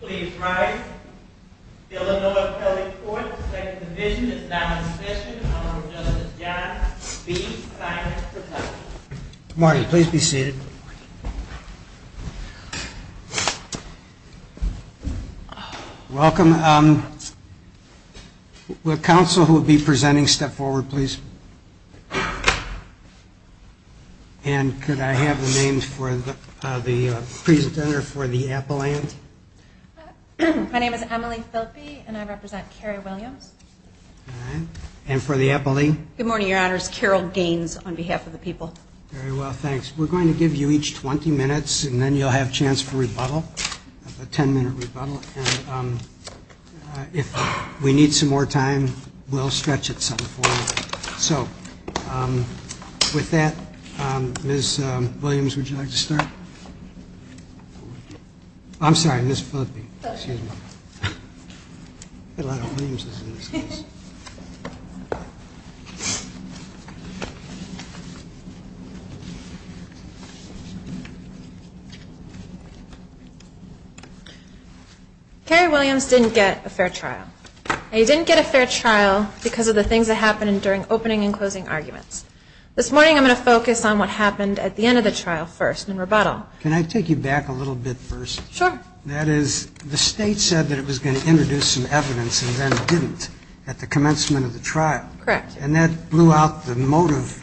Please rise. Illinois County Court, Second Division, is now in session. Honorable Judge John B. Simons presents. Marty, please be seated. Welcome. And could I have the names for the presenter for the appellant? My name is Emily Philppe, and I represent Carrie Williams. And for the appellee? Good morning, Your Honors. Carol Gaines on behalf of the people. Very well, thanks. We're going to give you each 20 minutes, and then you'll have a chance for rebuttal, a 10-minute rebuttal. And if we need some more time, we'll stretch it some. So with that, Ms. Williams, would you like to start? I'm sorry, Ms. Philppe. Carrie Williams didn't get a fair trial. And he didn't get a fair trial because of the things that happened during opening and closing arguments. This morning, I'm going to focus on what happened at the end of the trial first in rebuttal. Can I take you back a little bit first? Sure. That is, the State said that it was going to introduce some evidence and then didn't at the commencement of the trial. Correct. And that blew out the motive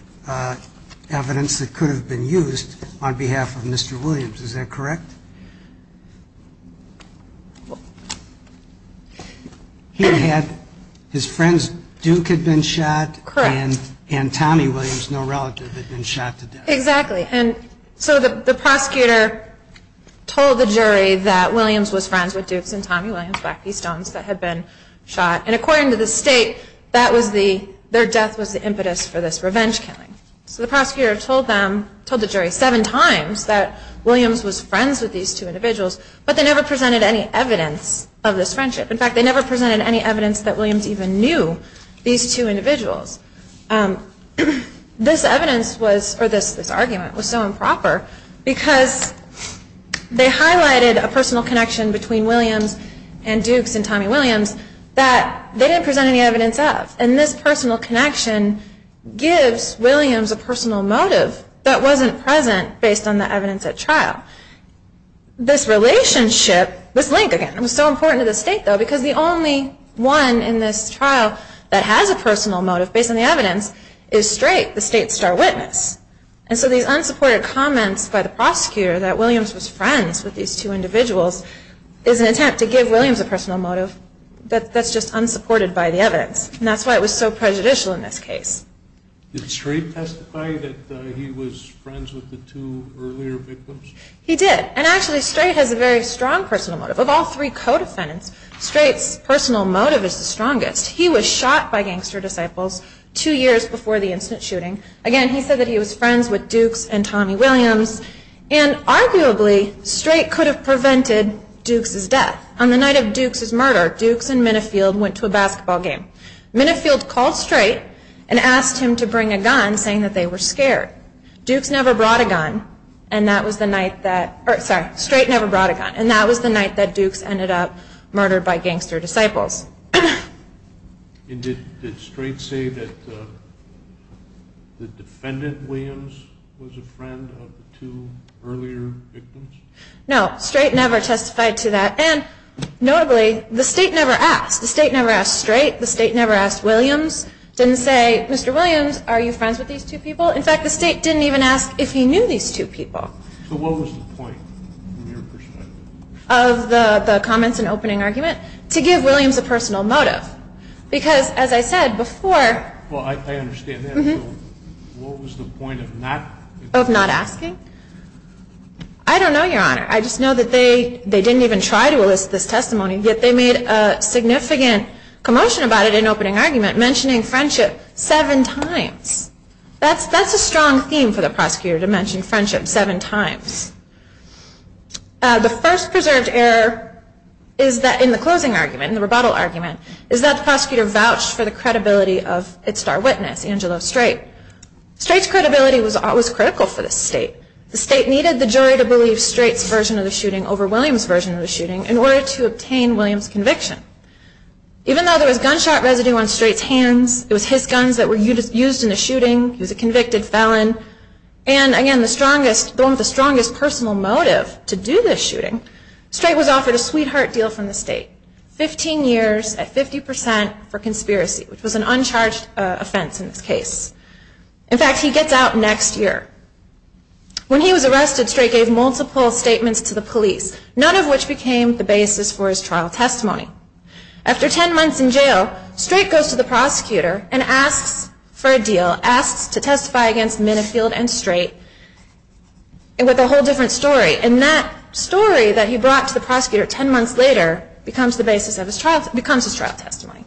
evidence that could have been used on behalf of Mr. Williams. Is that correct? Correct. He had his friends, Duke had been shot. Correct. And Tommy Williams, no relative, had been shot to death. Exactly. And so the prosecutor told the jury that Williams was friends with Dukes and Tommy Williams, Black Key Stones, that had been shot. And according to the State, that was the, their death was the impetus for this revenge killing. So the prosecutor told them, told the jury seven times that Williams was friends with these two individuals, but they never presented any evidence of this friendship. In fact, they never presented any evidence that Williams even knew these two individuals. This evidence was, or this argument was so improper because they highlighted a personal connection between Williams and Dukes and Tommy Williams that they didn't present any evidence of. And this personal connection gives Williams a personal motive that wasn't present based on the evidence at trial. This relationship, this link again, was so important to the State though, because the only one in this trial that has a personal motive based on the evidence is straight, the State star witness. And so these unsupported comments by the prosecutor that Williams was friends with these two individuals is an attempt to give Williams a personal motive that's just unsupported by the evidence. And that's why it was so prejudicial in this case. Did Straight testify that he was friends with the two earlier victims? He did. And actually, Straight has a very strong personal motive. Of all three co-defendants, Straight's personal motive is the strongest. He was shot by gangster disciples two years before the incident shooting. Again, he said that he was friends with Dukes and Tommy Williams. And arguably, Straight could have prevented Dukes' death. On the night of Dukes' murder, Dukes and Minifield went to a basketball game. Minifield called Straight and asked him to bring a gun, saying that they were scared. Straight never brought a gun. And that was the night that Dukes ended up murdered by gangster disciples. Did Straight say that the defendant, Williams, was a friend of the two earlier victims? No. Straight never testified to that. And notably, the State never asked. The State never asked Straight. The State never asked Williams. It didn't say, Mr. Williams, are you friends with these two people? In fact, the State didn't even ask if he knew these two people. So what was the point, from your perspective? Of the comments and opening argument? To give Williams a personal motive. Because, as I said before – Well, I understand that. So what was the point of not – Of not asking? I don't know, Your Honor. I just know that they didn't even try to elicit this testimony, yet they made a significant commotion about it in opening argument, mentioning friendship seven times. That's a strong theme for the prosecutor, to mention friendship seven times. The first preserved error in the closing argument, in the rebuttal argument, is that the prosecutor vouched for the credibility of its star witness, Angelo Straight. Straight's credibility was critical for the State. The State needed the jury to believe Straight's version of the shooting over Williams' version of the shooting in order to obtain Williams' conviction. Even though there was gunshot residue on Straight's hands, it was his guns that were used in the shooting, he was a convicted felon, and, again, the one with the strongest personal motive to do this shooting, Straight was offered a sweetheart deal from the State. Fifteen years at 50% for conspiracy, which was an uncharged offense in this case. In fact, he gets out next year. When he was arrested, Straight gave multiple statements to the police, none of which became the basis for his trial testimony. After ten months in jail, Straight goes to the prosecutor and asks for a deal, asks to testify against Minifield and Straight with a whole different story, and that story that he brought to the prosecutor ten months later becomes the basis of his trial testimony.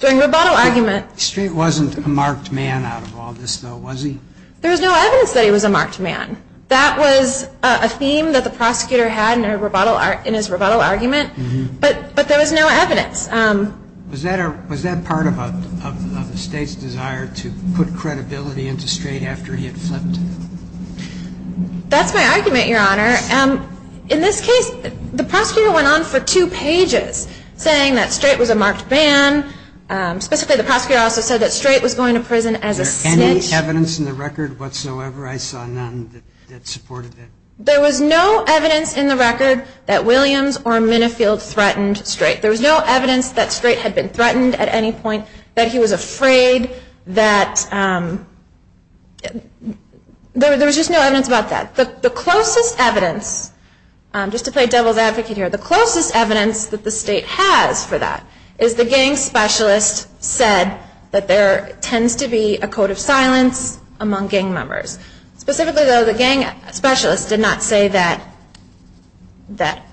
During rebuttal argument... Straight wasn't a marked man out of all this, though, was he? There was no evidence that he was a marked man. That was a theme that the prosecutor had in his rebuttal argument, but there was no evidence. Was that part of the State's desire to put credibility into Straight after he had flipped? That's my argument, Your Honor. In this case, the prosecutor went on for two pages saying that Straight was a marked man. Specifically, the prosecutor also said that Straight was going to prison as a snitch. Was there any evidence in the record whatsoever? I saw none that supported it. There was no evidence in the record that Williams or Minifield threatened Straight. There was no evidence that Straight had been threatened at any point, that he was afraid, that... There was just no evidence about that. The closest evidence, just to play devil's advocate here, the closest evidence that the State has for that is the gang specialist said that there tends to be a code of silence among gang members. Specifically, though, the gang specialist did not say that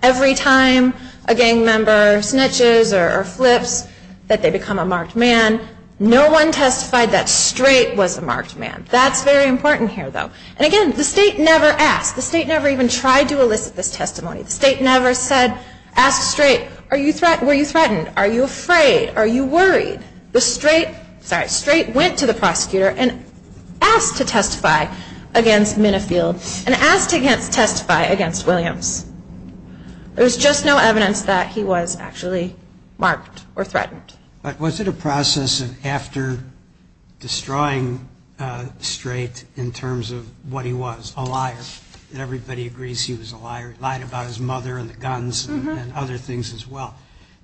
every time a gang member snitches or flips, that they become a marked man. No one testified that Straight was a marked man. That's very important here, though. And again, the State never asked. The State never even tried to elicit this testimony. The State never said, asked Straight, were you threatened? Are you afraid? Are you worried? The Straight went to the prosecutor and asked to testify against Minifield and asked to testify against Williams. There was just no evidence that he was actually marked or threatened. But was it a process of after destroying Straight in terms of what he was, a liar, and everybody agrees he was a liar, lied about his mother and the guns and other things as well,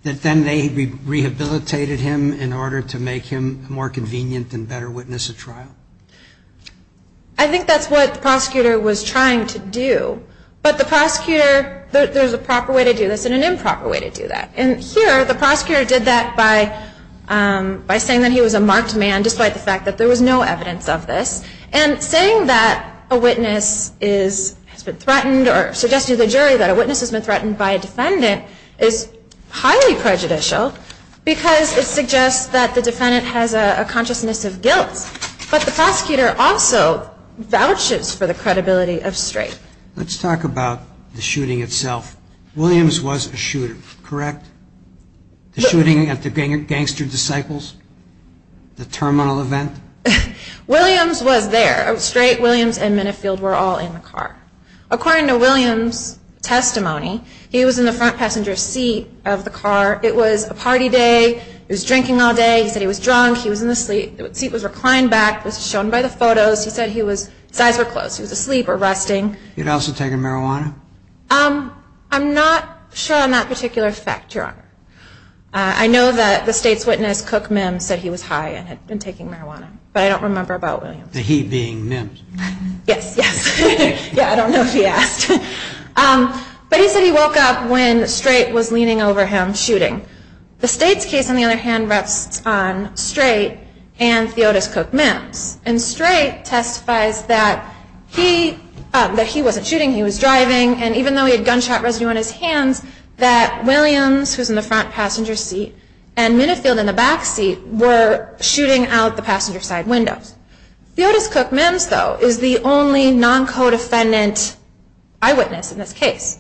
that then they rehabilitated him in order to make him more convenient and better witness a trial? I think that's what the prosecutor was trying to do. But the prosecutor, there's a proper way to do this and an improper way to do that. And here, the prosecutor did that by saying that he was a marked man despite the fact that there was no evidence of this. And saying that a witness has been threatened or suggesting to the jury that a witness has been threatened by a defendant is highly prejudicial because it suggests that the defendant has a consciousness of guilt. But the prosecutor also vouches for the credibility of Straight. Let's talk about the shooting itself. Williams was a shooter, correct? The shooting at the Gangster Disciples? The terminal event? Williams was there. Straight, Williams, and Minifield were all in the car. According to Williams' testimony, he was in the front passenger seat of the car. It was a party day. He was drinking all day. He said he was drunk. He was in the seat. The seat was reclined back. It was shown by the photos. He said his eyes were closed. He was asleep or resting. He had also taken marijuana? I'm not sure on that particular fact, Your Honor. I know that the State's witness, Cook Mims, said he was high and had been taking marijuana. But I don't remember about Williams. He being Mims? Yes, yes. Yeah, I don't know if he asked. But he said he woke up when Straight was leaning over him shooting. The State's case, on the other hand, rests on Straight and Theotis Cook Mims. And Straight testifies that he wasn't shooting. He was driving. And even though he had gunshot residue on his hands, that Williams, who was in the front passenger seat, and Minifield in the back seat, were shooting out the passenger side windows. Theotis Cook Mims, though, is the only non-codefendant eyewitness in this case.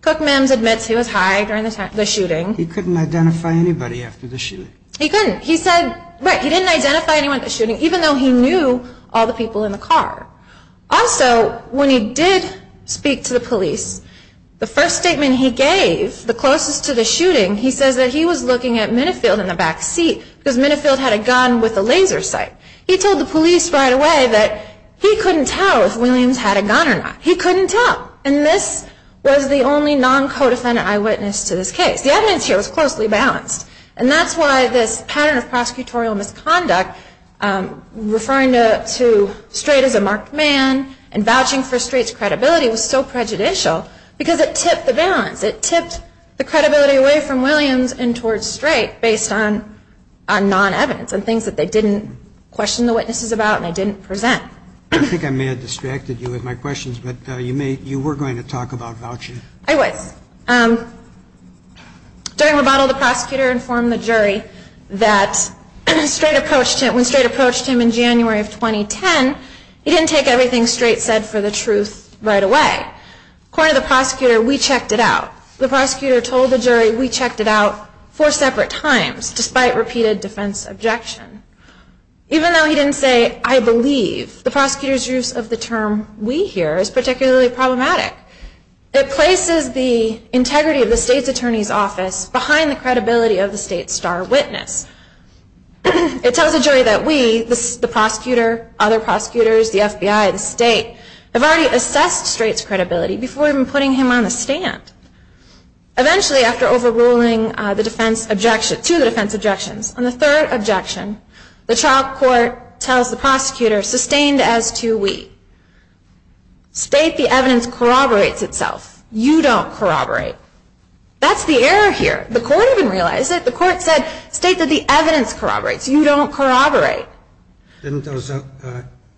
Cook Mims admits he was high during the shooting. He couldn't identify anybody after the shooting. He couldn't. He said, right, he didn't identify anyone at the shooting, even though he knew all the people in the car. Also, when he did speak to the police, the first statement he gave, the closest to the shooting, he says that he was looking at Minifield in the back seat because Minifield had a gun with a laser sight. He told the police right away that he couldn't tell if Williams had a gun or not. He couldn't tell. And this was the only non-codefendant eyewitness to this case. The evidence here was closely balanced. And that's why this pattern of prosecutorial misconduct, referring to Strait as a marked man and vouching for Strait's credibility was so prejudicial because it tipped the balance. It tipped the credibility away from Williams and towards Strait based on non-evidence and things that they didn't question the witnesses about and they didn't present. I think I may have distracted you with my questions, but you were going to talk about vouching. I was. During rebuttal, the prosecutor informed the jury that when Strait approached him in January of 2010, he didn't take everything Strait said for the truth right away. According to the prosecutor, we checked it out. The prosecutor told the jury we checked it out four separate times despite repeated defense objection. Even though he didn't say, I believe, the prosecutor's use of the term we hear is particularly problematic. It places the integrity of the state's attorney's office behind the credibility of the state's star witness. It tells the jury that we, the prosecutor, other prosecutors, the FBI, the state, have already assessed Strait's credibility before even putting him on the stand. Eventually, after overruling two of the defense objections, on the third objection, the trial court tells the prosecutor, sustained as to we, state the evidence corroborates itself. You don't corroborate. That's the error here. The court didn't realize it. The court said, state that the evidence corroborates. You don't corroborate. Didn't those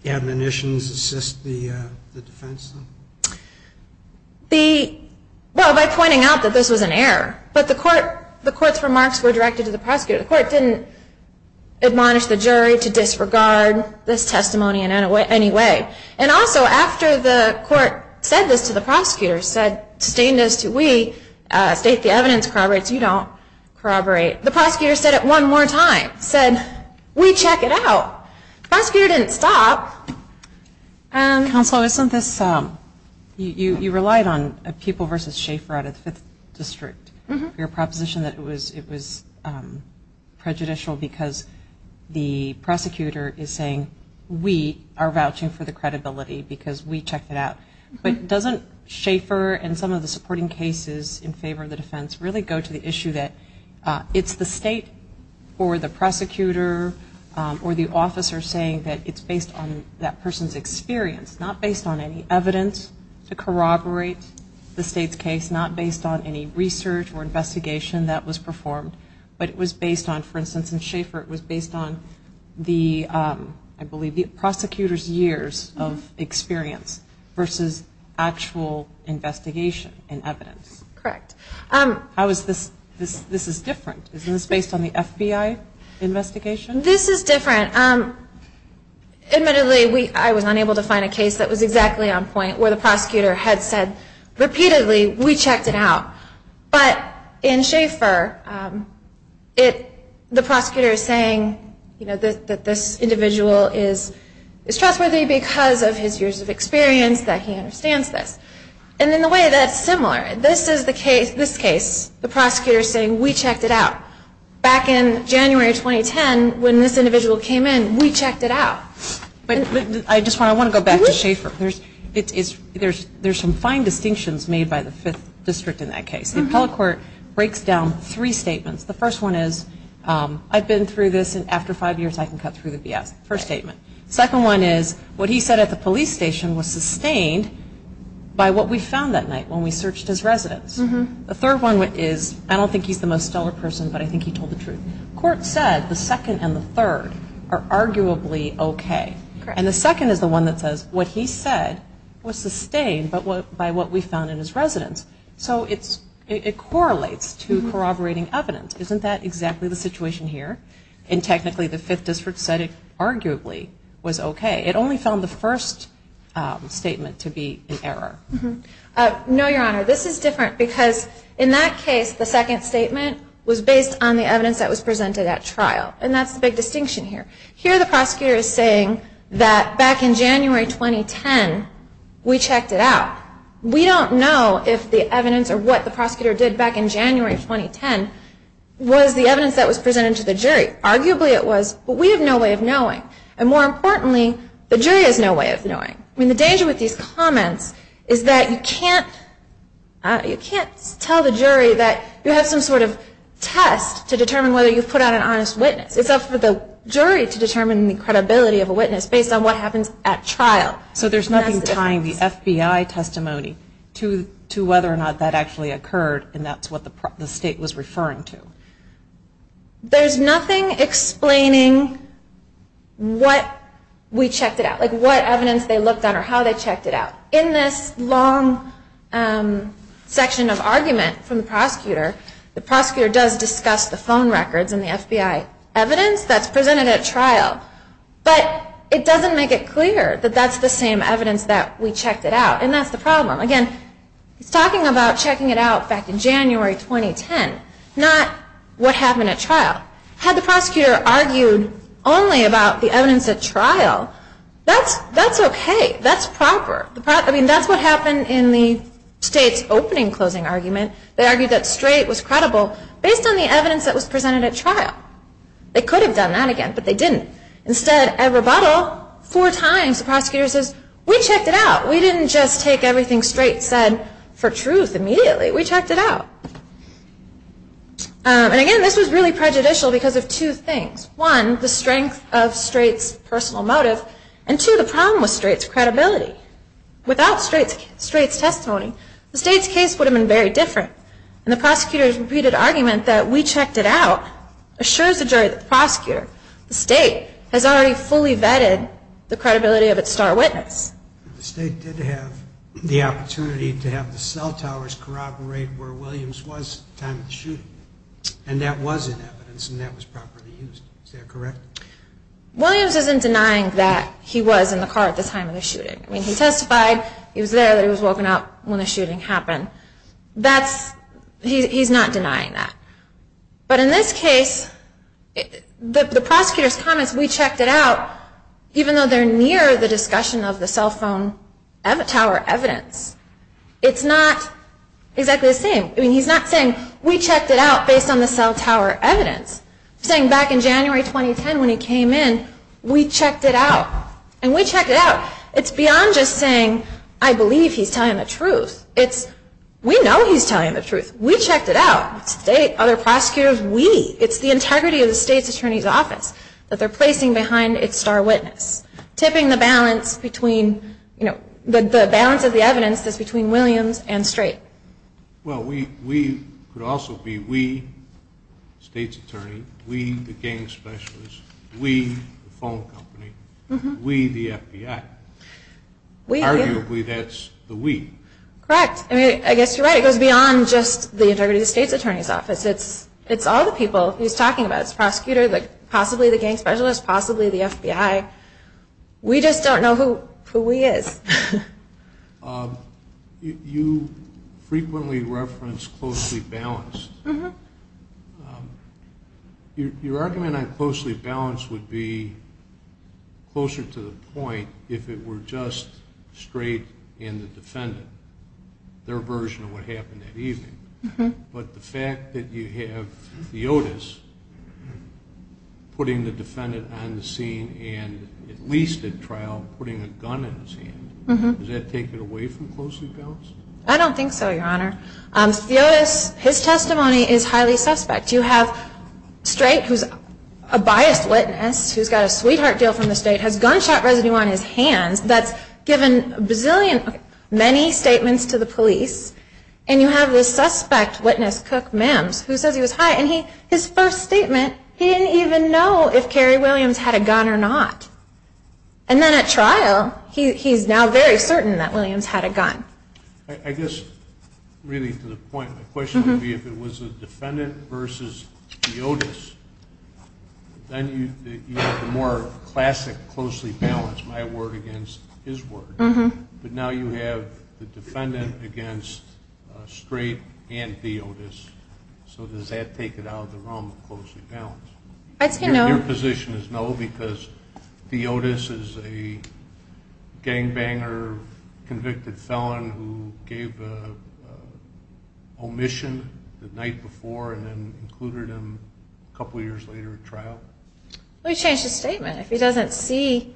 admonitions assist the defense? Well, by pointing out that this was an error. But the court's remarks were directed to the prosecutor. The court didn't admonish the jury to disregard this testimony in any way. And also, after the court said this to the prosecutor, said, sustained as to we, state the evidence corroborates. You don't corroborate. The prosecutor said it one more time, said, we check it out. The prosecutor didn't stop. Counsel, isn't this, you relied on a people versus Schaefer out of the 5th District. Your proposition that it was prejudicial because the prosecutor is saying, we are vouching for the credibility because we checked it out. But doesn't Schaefer and some of the supporting cases in favor of the defense really go to the issue that it's the state or the prosecutor or the officer saying that it's based on that person's experience, not based on any evidence to corroborate the state's case, not based on any research or investigation that was performed. But it was based on, for instance, in Schaefer, it was based on the, I believe, the prosecutor's years of experience versus actual investigation and evidence. Correct. How is this different? Isn't this based on the FBI investigation? This is different. Admittedly, I was unable to find a case that was exactly on point where the prosecutor had said repeatedly, we checked it out. But in Schaefer, the prosecutor is saying that this individual is trustworthy because of his years of experience, that he understands this. And in a way that's similar. This case, the prosecutor is saying, we checked it out. Back in January 2010, when this individual came in, we checked it out. I just want to go back to Schaefer. There's some fine distinctions made by the 5th District in that case. The appellate court breaks down three statements. The first one is, I've been through this, and after five years, I can cut through the BS, first statement. Second one is, what he said at the police station was sustained by what we found that night when we searched his residence. The third one is, I don't think he's the most stellar person, but I think he told the truth. The court said the second and the third are arguably okay. And the second is the one that says what he said was sustained by what we found in his residence. So it correlates to corroborating evidence. Isn't that exactly the situation here? And technically, the 5th District said it arguably was okay. It only found the first statement to be an error. No, Your Honor. This is different because in that case, the second statement was based on the evidence that was presented at trial. And that's the big distinction here. Here the prosecutor is saying that back in January 2010, we checked it out. We don't know if the evidence or what the prosecutor did back in January 2010 was the evidence that was presented to the jury. Arguably it was, but we have no way of knowing. And more importantly, the jury has no way of knowing. I mean, the danger with these comments is that you can't tell the jury that you have some sort of test to determine whether you've put out an honest witness. It's up for the jury to determine the credibility of a witness based on what happens at trial. So there's nothing tying the FBI testimony to whether or not that actually occurred, and that's what the state was referring to. There's nothing explaining what we checked it out, like what evidence they looked at or how they checked it out. In this long section of argument from the prosecutor, the prosecutor does discuss the phone records and the FBI evidence that's presented at trial, but it doesn't make it clear that that's the same evidence that we checked it out. And that's the problem. Again, he's talking about checking it out back in January 2010, not what happened at trial. Had the prosecutor argued only about the evidence at trial, that's okay. That's proper. I mean, that's what happened in the state's opening closing argument. They argued that straight was credible based on the evidence that was presented at trial. They could have done that again, but they didn't. Instead, at rebuttal, four times the prosecutor says, we checked it out. We didn't just take everything straight said for truth immediately. We checked it out. And again, this was really prejudicial because of two things. One, the strength of straight's personal motive, and two, the problem was straight's credibility. Without straight's testimony, the state's case would have been very different. And the prosecutor's repeated argument that we checked it out assures the jury that the prosecutor, the state, has already fully vetted the credibility of its star witness. The state did have the opportunity to have the cell towers corroborate where Williams was at the time of the shooting. And that was in evidence, and that was properly used. Is that correct? Williams isn't denying that he was in the car at the time of the shooting. I mean, he testified, he was there, that he was woken up when the shooting happened. He's not denying that. But in this case, the prosecutor's comments, we checked it out, even though they're near the discussion of the cell phone tower evidence. It's not exactly the same. I mean, he's not saying, we checked it out based on the cell tower evidence. He's saying back in January 2010 when he came in, we checked it out. And we checked it out. It's beyond just saying, I believe he's telling the truth. It's, we know he's telling the truth. We checked it out. The state, other prosecutors, we. It's the integrity of the state's attorney's office that they're placing behind its star witness. Tipping the balance between, you know, the balance of the evidence that's between Williams and Straight. Well, we could also be we, state's attorney, we, the gang specialist, we, the phone company, we, the FBI. Arguably, that's the we. Correct. I mean, I guess you're right. It goes beyond just the integrity of the state's attorney's office. It's all the people he's talking about. It's the prosecutor, possibly the gang specialist, possibly the FBI. We just don't know who we is. You frequently reference closely balanced. Your argument on closely balanced would be closer to the point if it were just Straight and the defendant, their version of what happened that evening. But the fact that you have Theotis putting the defendant on the scene and at least at trial putting a gun in his hand, does that take it away from closely balanced? I don't think so, Your Honor. Theotis, his testimony is highly suspect. You have Straight, who's a biased witness, who's got a sweetheart deal from the state, has gunshot residue on his hands. That's given a bazillion, many statements to the police. And you have the suspect witness, Cook Mims, who says he was high. And his first statement, he didn't even know if Carrie Williams had a gun or not. And then at trial, he's now very certain that Williams had a gun. I guess really to the point, the question would be if it was the defendant versus Theotis, then you have the more classic closely balanced, my word against his word. But now you have the defendant against Straight and Theotis. So does that take it out of the realm of closely balanced? I'd say no. Your position is no because Theotis is a gangbanger, convicted felon, who gave an omission the night before and then included him a couple years later at trial? Well, he changed his statement. If he doesn't see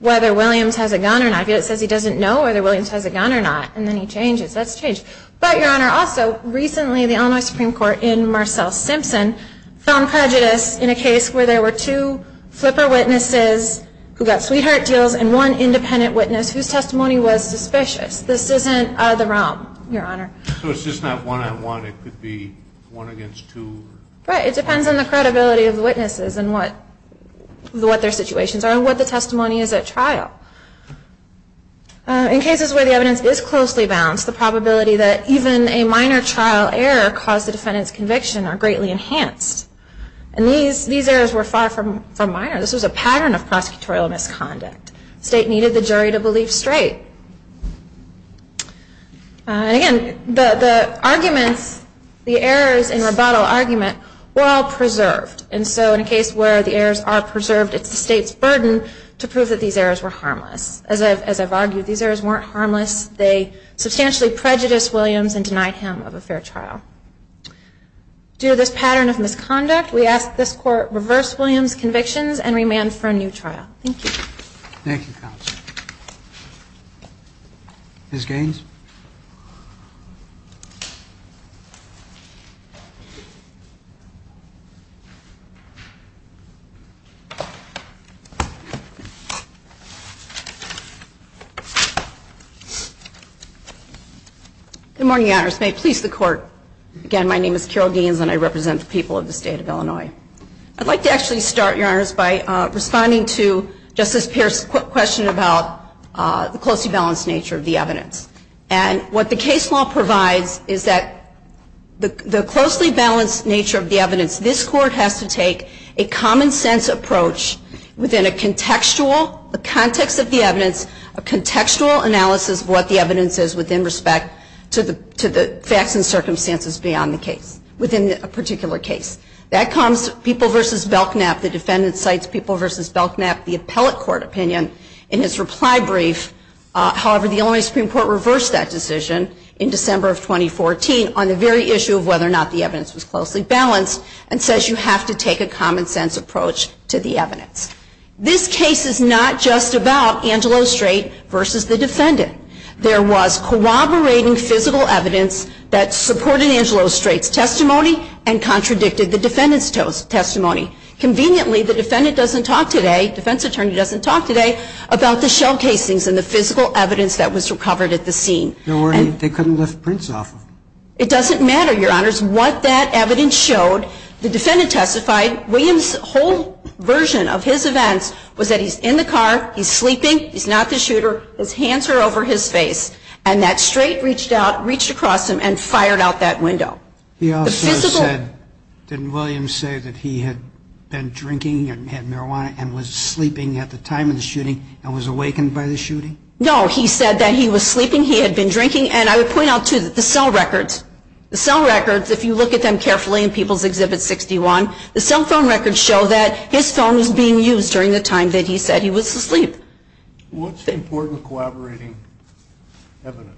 whether Williams has a gun or not, if it says he doesn't know whether Williams has a gun or not, and then he changes, that's changed. But, Your Honor, also recently the Illinois Supreme Court in Marcel Simpson found prejudice in a case where there were two flipper witnesses who got sweetheart deals and one independent witness whose testimony was suspicious. This isn't out of the realm, Your Honor. So it's just not one-on-one? It could be one against two? Right. It depends on the credibility of the witnesses and what their situations are and what the testimony is at trial. In cases where the evidence is closely balanced, the probability that even a minor trial error caused the defendant's conviction are greatly enhanced. And these errors were far from minor. This was a pattern of prosecutorial misconduct. The state needed the jury to believe straight. And again, the arguments, the errors in rebuttal argument were all preserved. And so in a case where the errors are preserved, it's the state's burden to prove that these errors were harmless. As I've argued, these errors weren't harmless. They substantially prejudiced Williams and denied him of a fair trial. Due to this pattern of misconduct, we ask that this Court reverse Williams' convictions and remand for a new trial. Thank you. Thank you, counsel. Ms. Gaines. Good morning, Your Honors. May it please the Court. Again, my name is Carol Gaines and I represent the people of the State of Illinois. I'd like to actually start, Your Honors, by responding to Justice Pierce's question about the closely balanced nature of the evidence. And what the case law provides is that the closely balanced nature of the evidence, this Court has to take a common sense approach within a contextual, a context of the evidence, a contextual analysis of what the evidence is within respect to the facts and circumstances beyond the case, within a particular case. That comes to People v. Belknap. The defendant cites People v. Belknap, the appellate court opinion, in his reply brief. However, the Illinois Supreme Court reversed that decision in December of 2014 on the very issue of whether or not the evidence was closely balanced This case is not just about Angelo Strait v. the defendant. There was corroborating physical evidence that supported Angelo Strait's testimony and contradicted the defendant's testimony. Conveniently, the defendant doesn't talk today, defense attorney doesn't talk today, about the shell casings and the physical evidence that was recovered at the scene. They couldn't lift prints off of them. It doesn't matter, Your Honors, what that evidence showed. The defendant testified, William's whole version of his events was that he's in the car, he's sleeping, he's not the shooter, his hands are over his face, and that Strait reached out, reached across him, and fired out that window. He also said, didn't William say that he had been drinking and had marijuana and was sleeping at the time of the shooting and was awakened by the shooting? No, he said that he was sleeping, he had been drinking, and I would point out, too, the cell records, the cell records, if you look at them carefully in People's Exhibit 61, the cell phone records show that his phone was being used during the time that he said he was asleep. What's important corroborating evidence?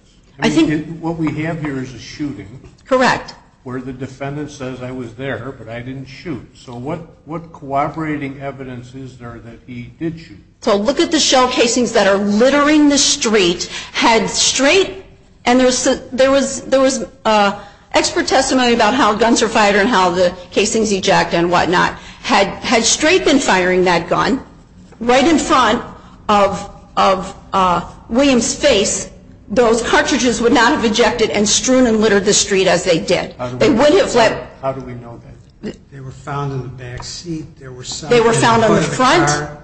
What we have here is a shooting. Correct. Where the defendant says, I was there, but I didn't shoot. So what corroborating evidence is there that he did shoot? So look at the shell casings that are littering the street. Had Strait, and there was expert testimony about how guns are fired and how the casings eject and whatnot. Had Strait been firing that gun right in front of William's face, those cartridges would not have ejected and strewn and littered the street as they did. How do we know that? They were found in the back seat. They were found on the front.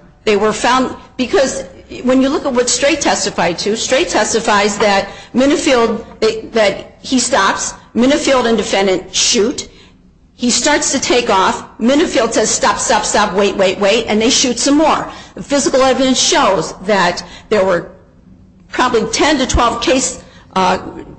Because when you look at what Strait testified to, Strait testifies that he stops. Minifield and defendant shoot. He starts to take off. Minifield says, stop, stop, stop, wait, wait, wait, and they shoot some more. Physical evidence shows that there were probably 10 to 12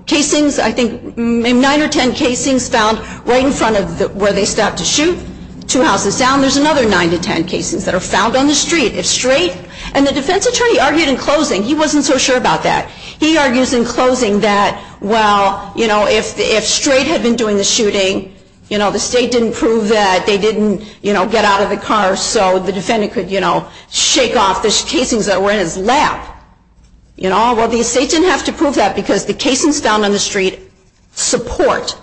casings, I think 9 or 10 casings found right in front of where they stopped to shoot, two houses down. There's another 9 to 10 casings that are found on the street. If Strait, and the defense attorney argued in closing, he wasn't so sure about that. He argues in closing that, well, you know, if Strait had been doing the shooting, you know, the state didn't prove that. They didn't, you know, get out of the car so the defendant could, you know, shake off the casings that were in his lap, you know. Well, the state didn't have to prove that because the casings found on the street support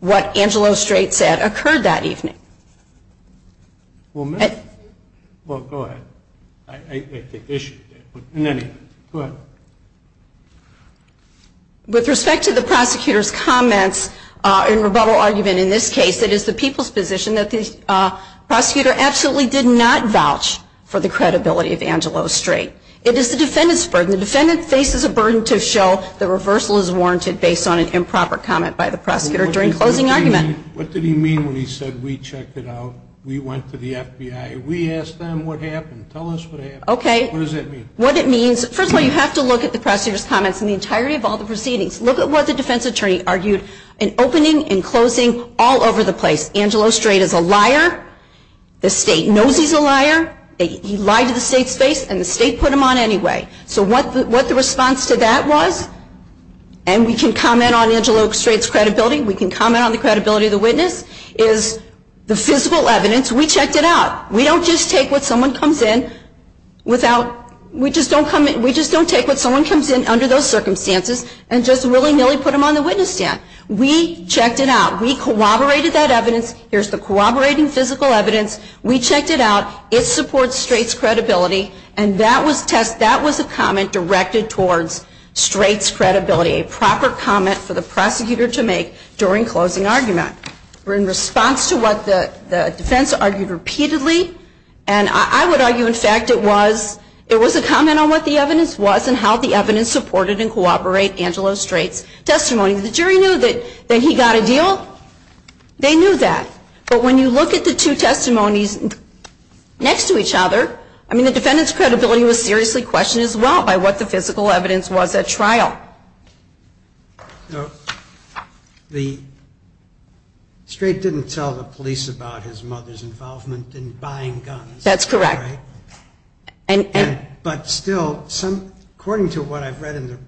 what Angelo Strait said occurred that evening. Well, go ahead. I think they issued it. In any event, go ahead. With respect to the prosecutor's comments in rebuttal argument in this case, it is the people's position that the prosecutor absolutely did not vouch for the It is the defendant's burden. The defendant faces a burden to show the reversal is warranted based on an improper comment by the prosecutor during closing argument. What did he mean when he said we checked it out, we went to the FBI, we asked them what happened, tell us what happened. Okay. What does that mean? What it means, first of all, you have to look at the prosecutor's comments in the entirety of all the proceedings. Look at what the defense attorney argued in opening and closing all over the place. Angelo Strait is a liar. The state knows he's a liar. He lied to the state's face and the state put him on anyway. So what the response to that was, and we can comment on Angelo Strait's credibility, we can comment on the credibility of the witness, is the physical evidence, we checked it out. We don't just take what someone comes in under those circumstances and just willy-nilly put them on the witness stand. We checked it out. We corroborated that evidence. Here's the corroborating physical evidence. We checked it out. It supports Strait's credibility. And that was a comment directed towards Strait's credibility, a proper comment for the prosecutor to make during closing argument. In response to what the defense argued repeatedly, and I would argue, in fact, it was a comment on what the evidence was and how the evidence supported and corroborated Angelo Strait's testimony. The jury knew that he got a deal. They knew that. But when you look at the two testimonies next to each other, I mean the defendant's credibility was seriously questioned as well by what the physical evidence was at trial. No, Strait didn't tell the police about his mother's involvement in buying guns. That's correct. But still, according to what I've read,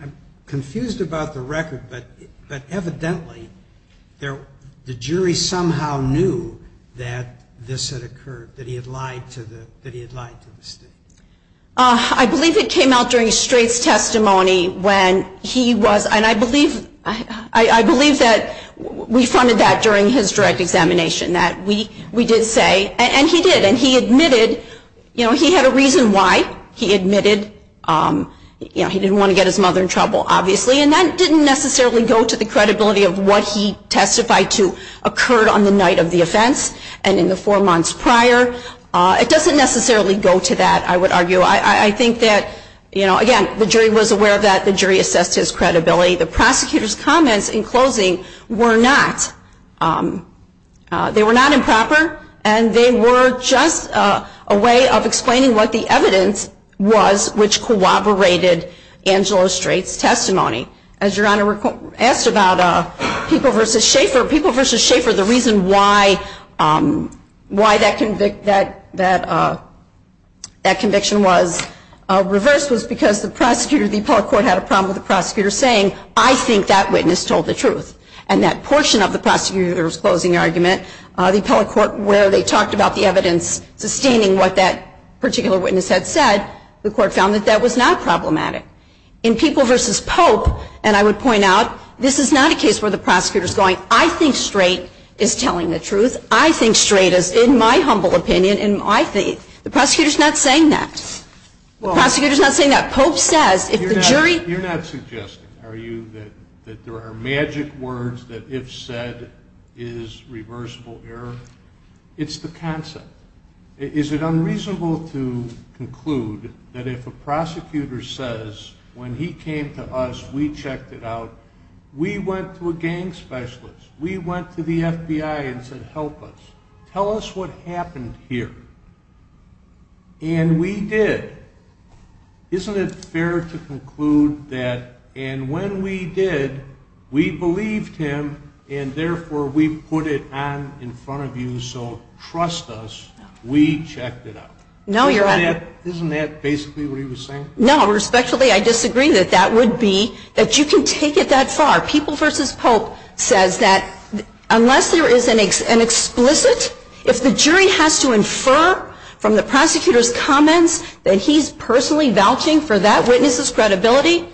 I'm confused about the record, but evidently the jury somehow knew that this had occurred, that he had lied to the state. I believe it came out during Strait's testimony when he was, and I believe that we funded that during his direct examination, that we did say, and he did, and he admitted, you know, he had a reason why he admitted, you know, he didn't want to get his mother in trouble, obviously, and that didn't necessarily go to the credibility of what he testified to occurred on the night of the offense and in the four months prior. It doesn't necessarily go to that, I would argue. I think that, you know, again, the jury was aware of that. The jury assessed his credibility. The prosecutor's comments in closing were not improper, and they were just a way of explaining what the evidence was which corroborated Angela Strait's testimony. As Your Honor asked about People v. Schaefer, People v. Schaefer, the reason why that conviction was reversed was because the prosecutor, the appellate court had a problem with the prosecutor saying, I think that witness told the truth. And that portion of the prosecutor's closing argument, the appellate court where they talked about the evidence sustaining what that particular witness had said, the court found that that was not problematic. In People v. Pope, and I would point out, this is not a case where the prosecutor's going, I think Strait is telling the truth. I think Strait is, in my humble opinion, in my faith. The prosecutor's not saying that. The prosecutor's not saying that. Pope says if the jury ---- You're not suggesting, are you, that there are magic words that if said is reversible error? It's the concept. Is it unreasonable to conclude that if a prosecutor says, when he came to us, we checked it out, we went to a gang specialist, we went to the FBI and said, help us, tell us what happened here. And we did. Isn't it fair to conclude that, and when we did, we believed him, and therefore we put it on in front of you, so trust us, we checked it out? Isn't that basically what he was saying? No, respectfully, I disagree that that would be, that you can take it that far. People v. Pope says that unless there is an explicit, if the jury has to infer from the prosecutor's comments that he's personally vouching for that witness's credibility,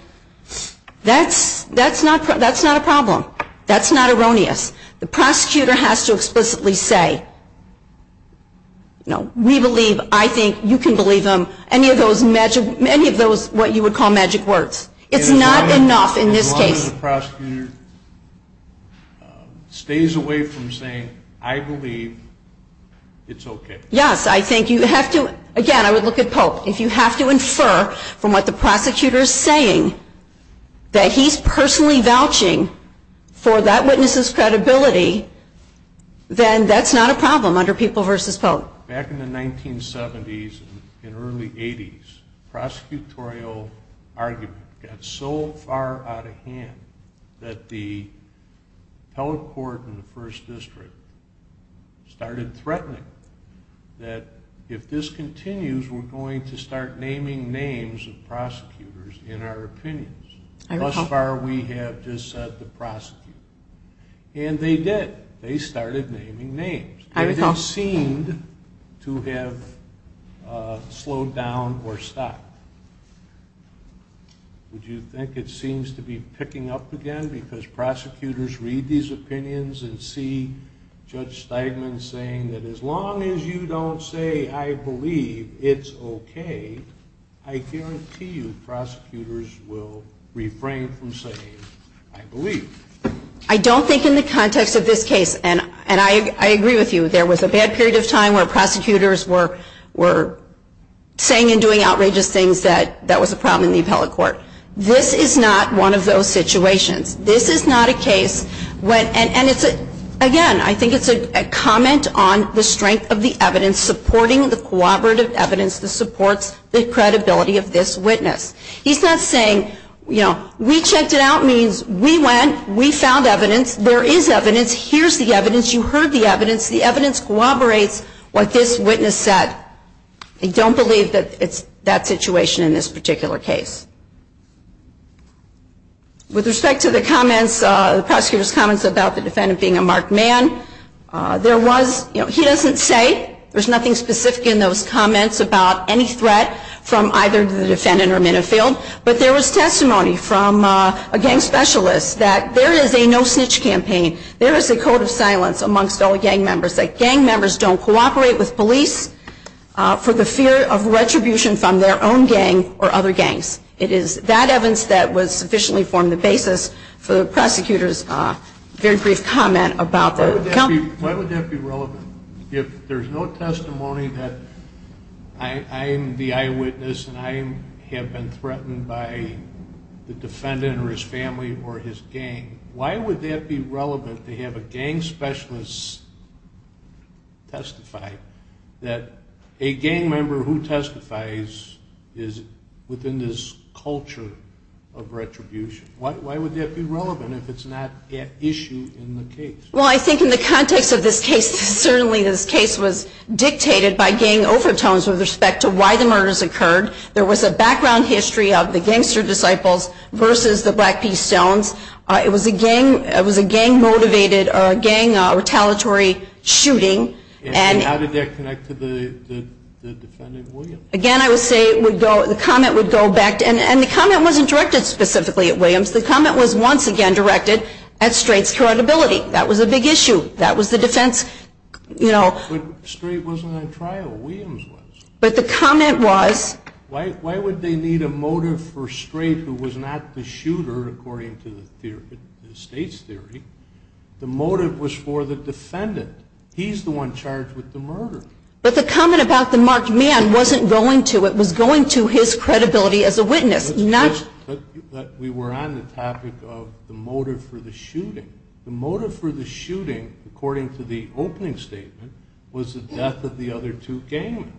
that's not a problem. That's not erroneous. The prosecutor has to explicitly say, you know, we believe, I think, you can believe him, any of those magic, any of those what you would call magic words. It's not enough in this case. As long as the prosecutor stays away from saying, I believe, it's okay. Yes, I think you have to, again, I would look at Pope. If you have to infer from what the prosecutor is saying that he's personally vouching for that witness's credibility, then that's not a problem under People v. Pope. Back in the 1970s and early 80s, prosecutorial argument got so far out of hand that the appellate court in the first district started threatening that if this continues, we're going to start naming names of prosecutors in our opinions. Thus far we have just said the prosecutor. And they did. They started naming names. They didn't seem to have slowed down or stopped. Would you think it seems to be picking up again because prosecutors read these opinions and see Judge Steigman saying that as long as you don't say, I believe, it's okay, I guarantee you prosecutors will refrain from saying, I believe. I don't think in the context of this case, and I agree with you, there was a bad period of time where prosecutors were saying and doing outrageous things that that was a problem in the appellate court. This is not one of those situations. This is not a case when, and again, I think it's a comment on the strength of the evidence supporting the corroborative evidence that supports the credibility of this witness. He's not saying, you know, we checked it out means we went, we found evidence, there is evidence, here's the evidence, you heard the evidence, the evidence corroborates what this witness said. I don't believe that it's that situation in this particular case. With respect to the comments, the prosecutor's comments about the defendant being a marked man, there was, you know, he doesn't say, there's nothing specific in those comments about any threat from either the defendant or Minifield, but there was testimony from a gang specialist that there is a no snitch campaign, there is a code of silence amongst all gang members, that gang members don't cooperate with police for the fear of retribution from their own gang or other gangs. It is that evidence that was sufficiently formed the basis for the prosecutor's very brief comment about the company. Why would that be relevant? If there's no testimony that I'm the eyewitness and I have been threatened by the defendant or his family or his gang, why would that be relevant to have a gang specialist testify that a gang member who testifies is within this culture of retribution? Why would that be relevant if it's not an issue in the case? Well, I think in the context of this case, certainly this case was dictated by gang overtones with respect to why the murders occurred. There was a background history of the gangster disciples versus the Black Peas Stones. It was a gang-motivated or a gang-retaliatory shooting. How did that connect to the defendant, Williams? Again, I would say the comment would go back. And the comment wasn't directed specifically at Williams. The comment was once again directed at Strait's credibility. That was a big issue. That was the defense, you know. But Strait wasn't on trial. Williams was. But the comment was. Why would they need a motive for Strait who was not the shooter, according to the state's theory? The motive was for the defendant. He's the one charged with the murder. But the comment about the marked man wasn't going to. It was going to his credibility as a witness, not. But we were on the topic of the motive for the shooting. The motive for the shooting, according to the opening statement, was the death of the other two gang members.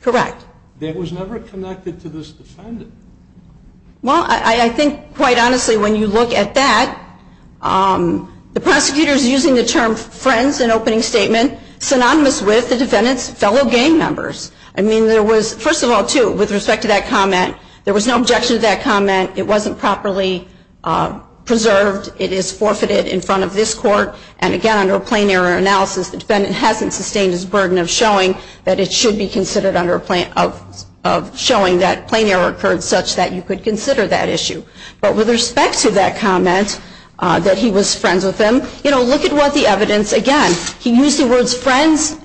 Correct. That was never connected to this defendant. Well, I think, quite honestly, when you look at that, the prosecutor's using the term friends in opening statement synonymous with the defendant's fellow gang members. I mean, there was, first of all, too, with respect to that comment, there was no objection to that comment. It wasn't properly preserved. It is forfeited in front of this court. And, again, under a plain error analysis, the defendant hasn't sustained his burden of showing that it should be considered under a plan of showing that plain error occurred such that you could consider that issue. But with respect to that comment, that he was friends with them, you know, look at what the evidence, again, he used the words friends.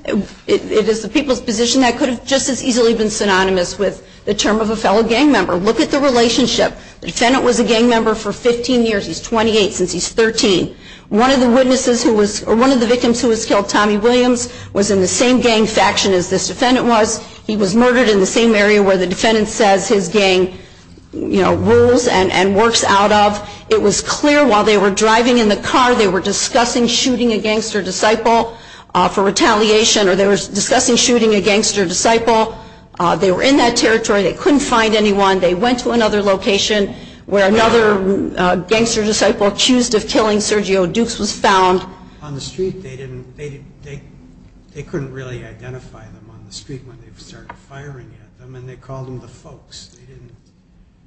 It is the people's position that could have just as easily been synonymous with the term of a fellow gang member. Look at the relationship. The defendant was a gang member for 15 years. He's 28 since he's 13. One of the witnesses who was, or one of the victims who was killed, Tommy Williams, was in the same gang faction as this defendant was. He was murdered in the same area where the defendant says his gang, you know, rules and works out of. It was clear while they were driving in the car they were discussing shooting a gangster disciple for retaliation or they were discussing shooting a gangster disciple. They were in that territory. They couldn't find anyone. They went to another location where another gangster disciple accused of killing Sergio Dukes was found. On the street they couldn't really identify them on the street when they started firing at them and they called them the folks.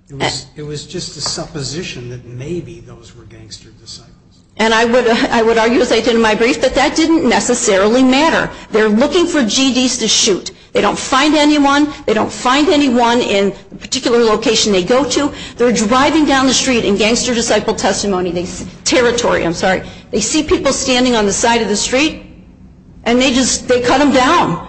It was just a supposition that maybe those were gangster disciples. And I would argue, as I did in my brief, that that didn't necessarily matter. They're looking for GDs to shoot. They don't find anyone. They don't find anyone in the particular location they go to. They see people standing on the side of the street and they just, they cut them down.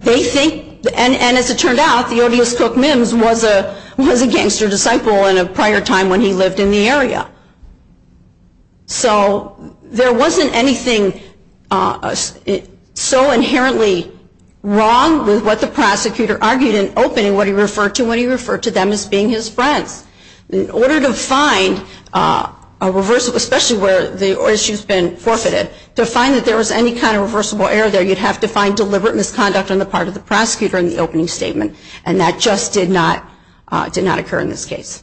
They think, and as it turned out, Theodios Cook-Mims was a gangster disciple in a prior time when he lived in the area. So there wasn't anything so inherently wrong with what the prosecutor argued in opening what he referred to when he referred to them as being his friends. In order to find a reversal, especially where the issue's been forfeited, to find that there was any kind of reversible error there, you'd have to find deliberate misconduct on the part of the prosecutor in the opening statement. And that just did not occur in this case.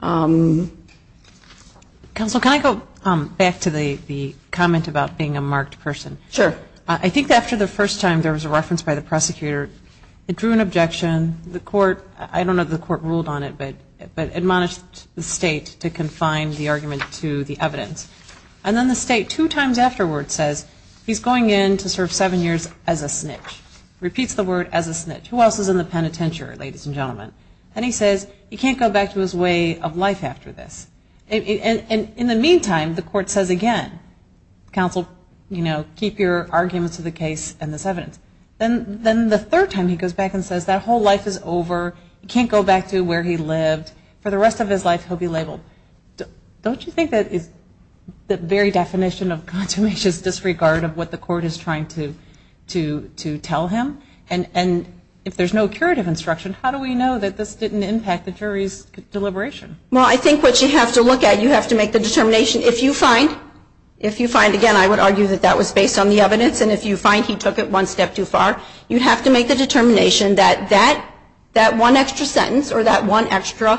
Counsel, can I go back to the comment about being a marked person? Sure. I think after the first time there was a reference by the prosecutor, it drew an objection. The court, I don't know if the court ruled on it, but admonished the state to confine the argument to the evidence. And then the state two times afterward says, he's going in to serve seven years as a snitch. Repeats the word as a snitch. Who else is in the penitentiary, ladies and gentlemen? And he says, you can't go back to his way of life after this. And in the meantime, the court says again, counsel, you know, keep your arguments of the case and this evidence. Then the third time he goes back and says, that whole life is over. He can't go back to where he lived. For the rest of his life, he'll be labeled. Don't you think that is the very definition of a contemptuous disregard of what the court is trying to tell him? And if there's no curative instruction, how do we know that this didn't impact the jury's deliberation? Well, I think what you have to look at, you have to make the determination. If you find, again, I would argue that that was based on the evidence. And if you find he took it one step too far, you have to make the determination that that one extra sentence or that one extra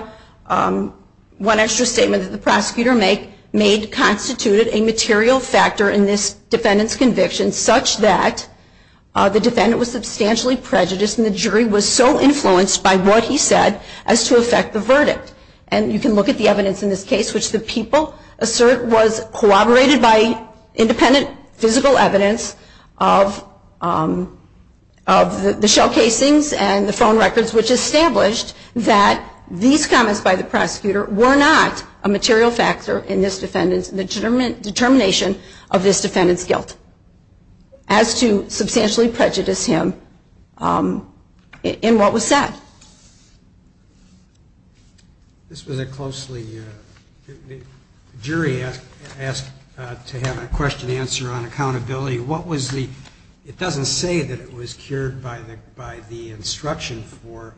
statement that the prosecutor made constituted a material factor in this defendant's conviction such that the defendant was substantially prejudiced and the jury was so influenced by what he said as to affect the verdict. And you can look at the evidence in this case, which the people assert was corroborated by independent physical evidence of the shell casings and the phone records, which established that these comments by the prosecutor were not a material factor in this defendant's determination of this defendant's guilt as to substantially prejudice him in what was said. This was a closely, the jury asked to have a question answer on accountability. What was the, it doesn't say that it was cured by the instruction for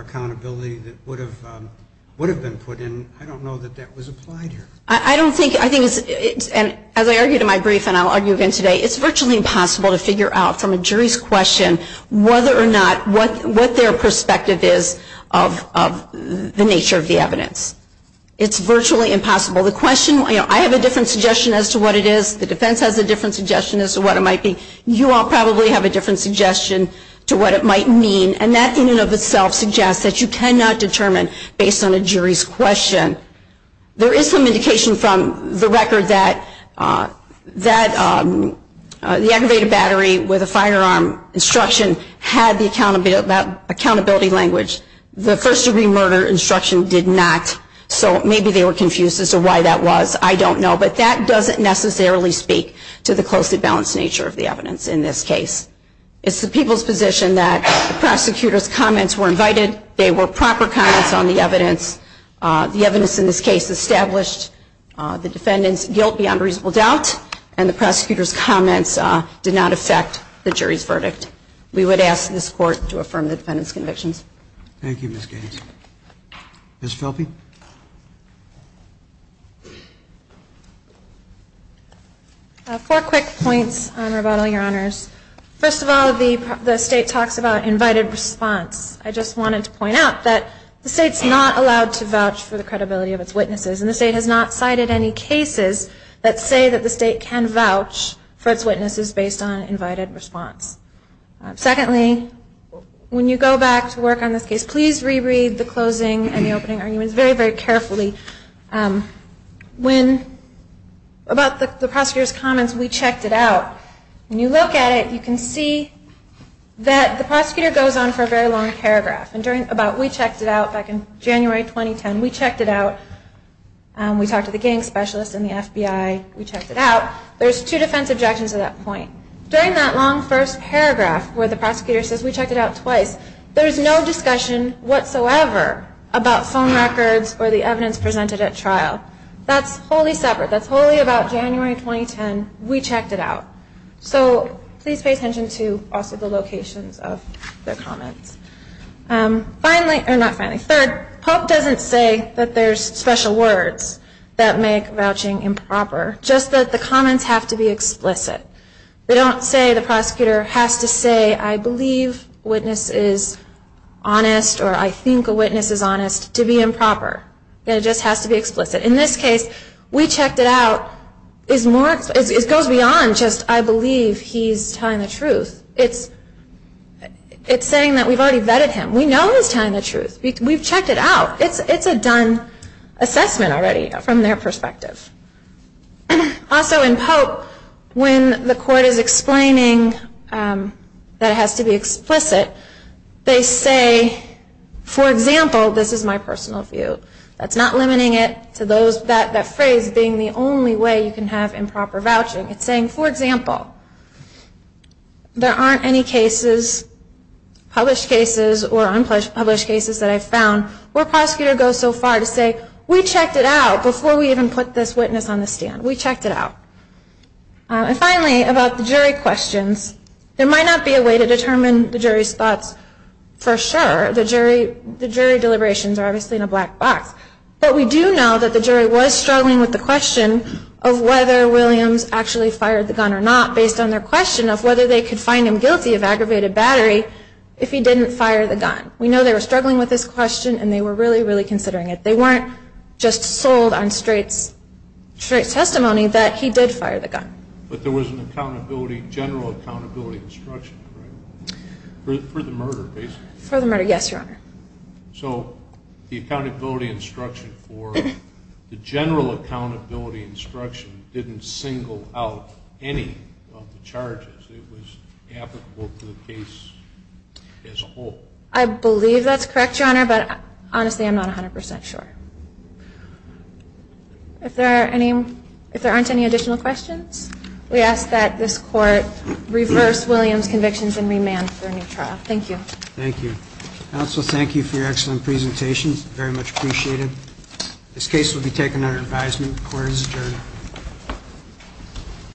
accountability that would have been put in. I don't know that that was applied here. I don't think, I think, as I argued in my brief and I'll argue again today, it's virtually impossible to figure out from a jury's question whether or not, what their perspective is of the nature of the evidence. It's virtually impossible. The question, you know, I have a different suggestion as to what it is. The defense has a different suggestion as to what it might be. You all probably have a different suggestion to what it might mean. And that in and of itself suggests that you cannot determine based on a jury's question. There is some indication from the record that the aggravated battery with a firearm instruction had the accountability language. The first degree murder instruction did not. So maybe they were confused as to why that was. I don't know. But that doesn't necessarily speak to the closely balanced nature of the evidence in this case. It's the people's position that the prosecutor's comments were invited. They were proper comments on the evidence. The evidence in this case established the defendant's guilt beyond reasonable doubt. And the prosecutor's comments did not affect the jury's verdict. We would ask this Court to affirm the defendant's convictions. Thank you, Ms. Gaines. Ms. Philby. Four quick points, Your Honor, about all your honors. First of all, the State talks about invited response. I just wanted to point out that the State's not allowed to vouch for the credibility of its witnesses. And the State has not cited any cases that say that the State can vouch for its witnesses based on invited response. Secondly, when you go back to work on this case, please reread the closing and the opening arguments very, very carefully. About the prosecutor's comments, we checked it out. When you look at it, you can see that the prosecutor goes on for a very long paragraph. We checked it out back in January 2010. We checked it out. We talked to the gang specialist and the FBI. We checked it out. There's two defense objections to that point. During that long first paragraph where the prosecutor says we checked it out twice, there is no discussion whatsoever about phone records or the evidence presented at trial. That's wholly separate. That's wholly about January 2010. We checked it out. So please pay attention to also the locations of their comments. Third, Pope doesn't say that there's special words that make vouching improper, just that the comments have to be explicit. They don't say the prosecutor has to say I believe witness is honest or I think a witness is honest to be improper. It just has to be explicit. In this case, we checked it out. It goes beyond just I believe he's telling the truth. It's saying that we've already vetted him. We know he's telling the truth. We've checked it out. It's a done assessment already from their perspective. Also in Pope, when the court is explaining that it has to be explicit, they say, for example, this is my personal view. That's not limiting it to that phrase being the only way you can have improper vouching. It's saying, for example, there aren't any cases, published cases or unpublished cases that I've found where a prosecutor goes so far to say, we checked it out before we even put this witness on the stand. We checked it out. And finally, about the jury questions, there might not be a way to determine the jury's thoughts for sure. The jury deliberations are obviously in a black box. But we do know that the jury was struggling with the question of whether Williams actually fired the gun or not based on their question of whether they could find him guilty of aggravated battery if he didn't fire the gun. We know they were struggling with this question, and they were really, really considering it. They weren't just sold on straight testimony that he did fire the gun. But there was a general accountability instruction for the murder, basically. For the murder, yes, Your Honor. So the accountability instruction for the general accountability instruction didn't single out any of the charges. It was applicable to the case as a whole. I believe that's correct, Your Honor. But honestly, I'm not 100% sure. If there aren't any additional questions, we ask that this Court reverse Williams' convictions and remand for a new trial. Thank you. Thank you. Counsel, thank you for your excellent presentations. Very much appreciated. This case will be taken under advisement. Court is adjourned.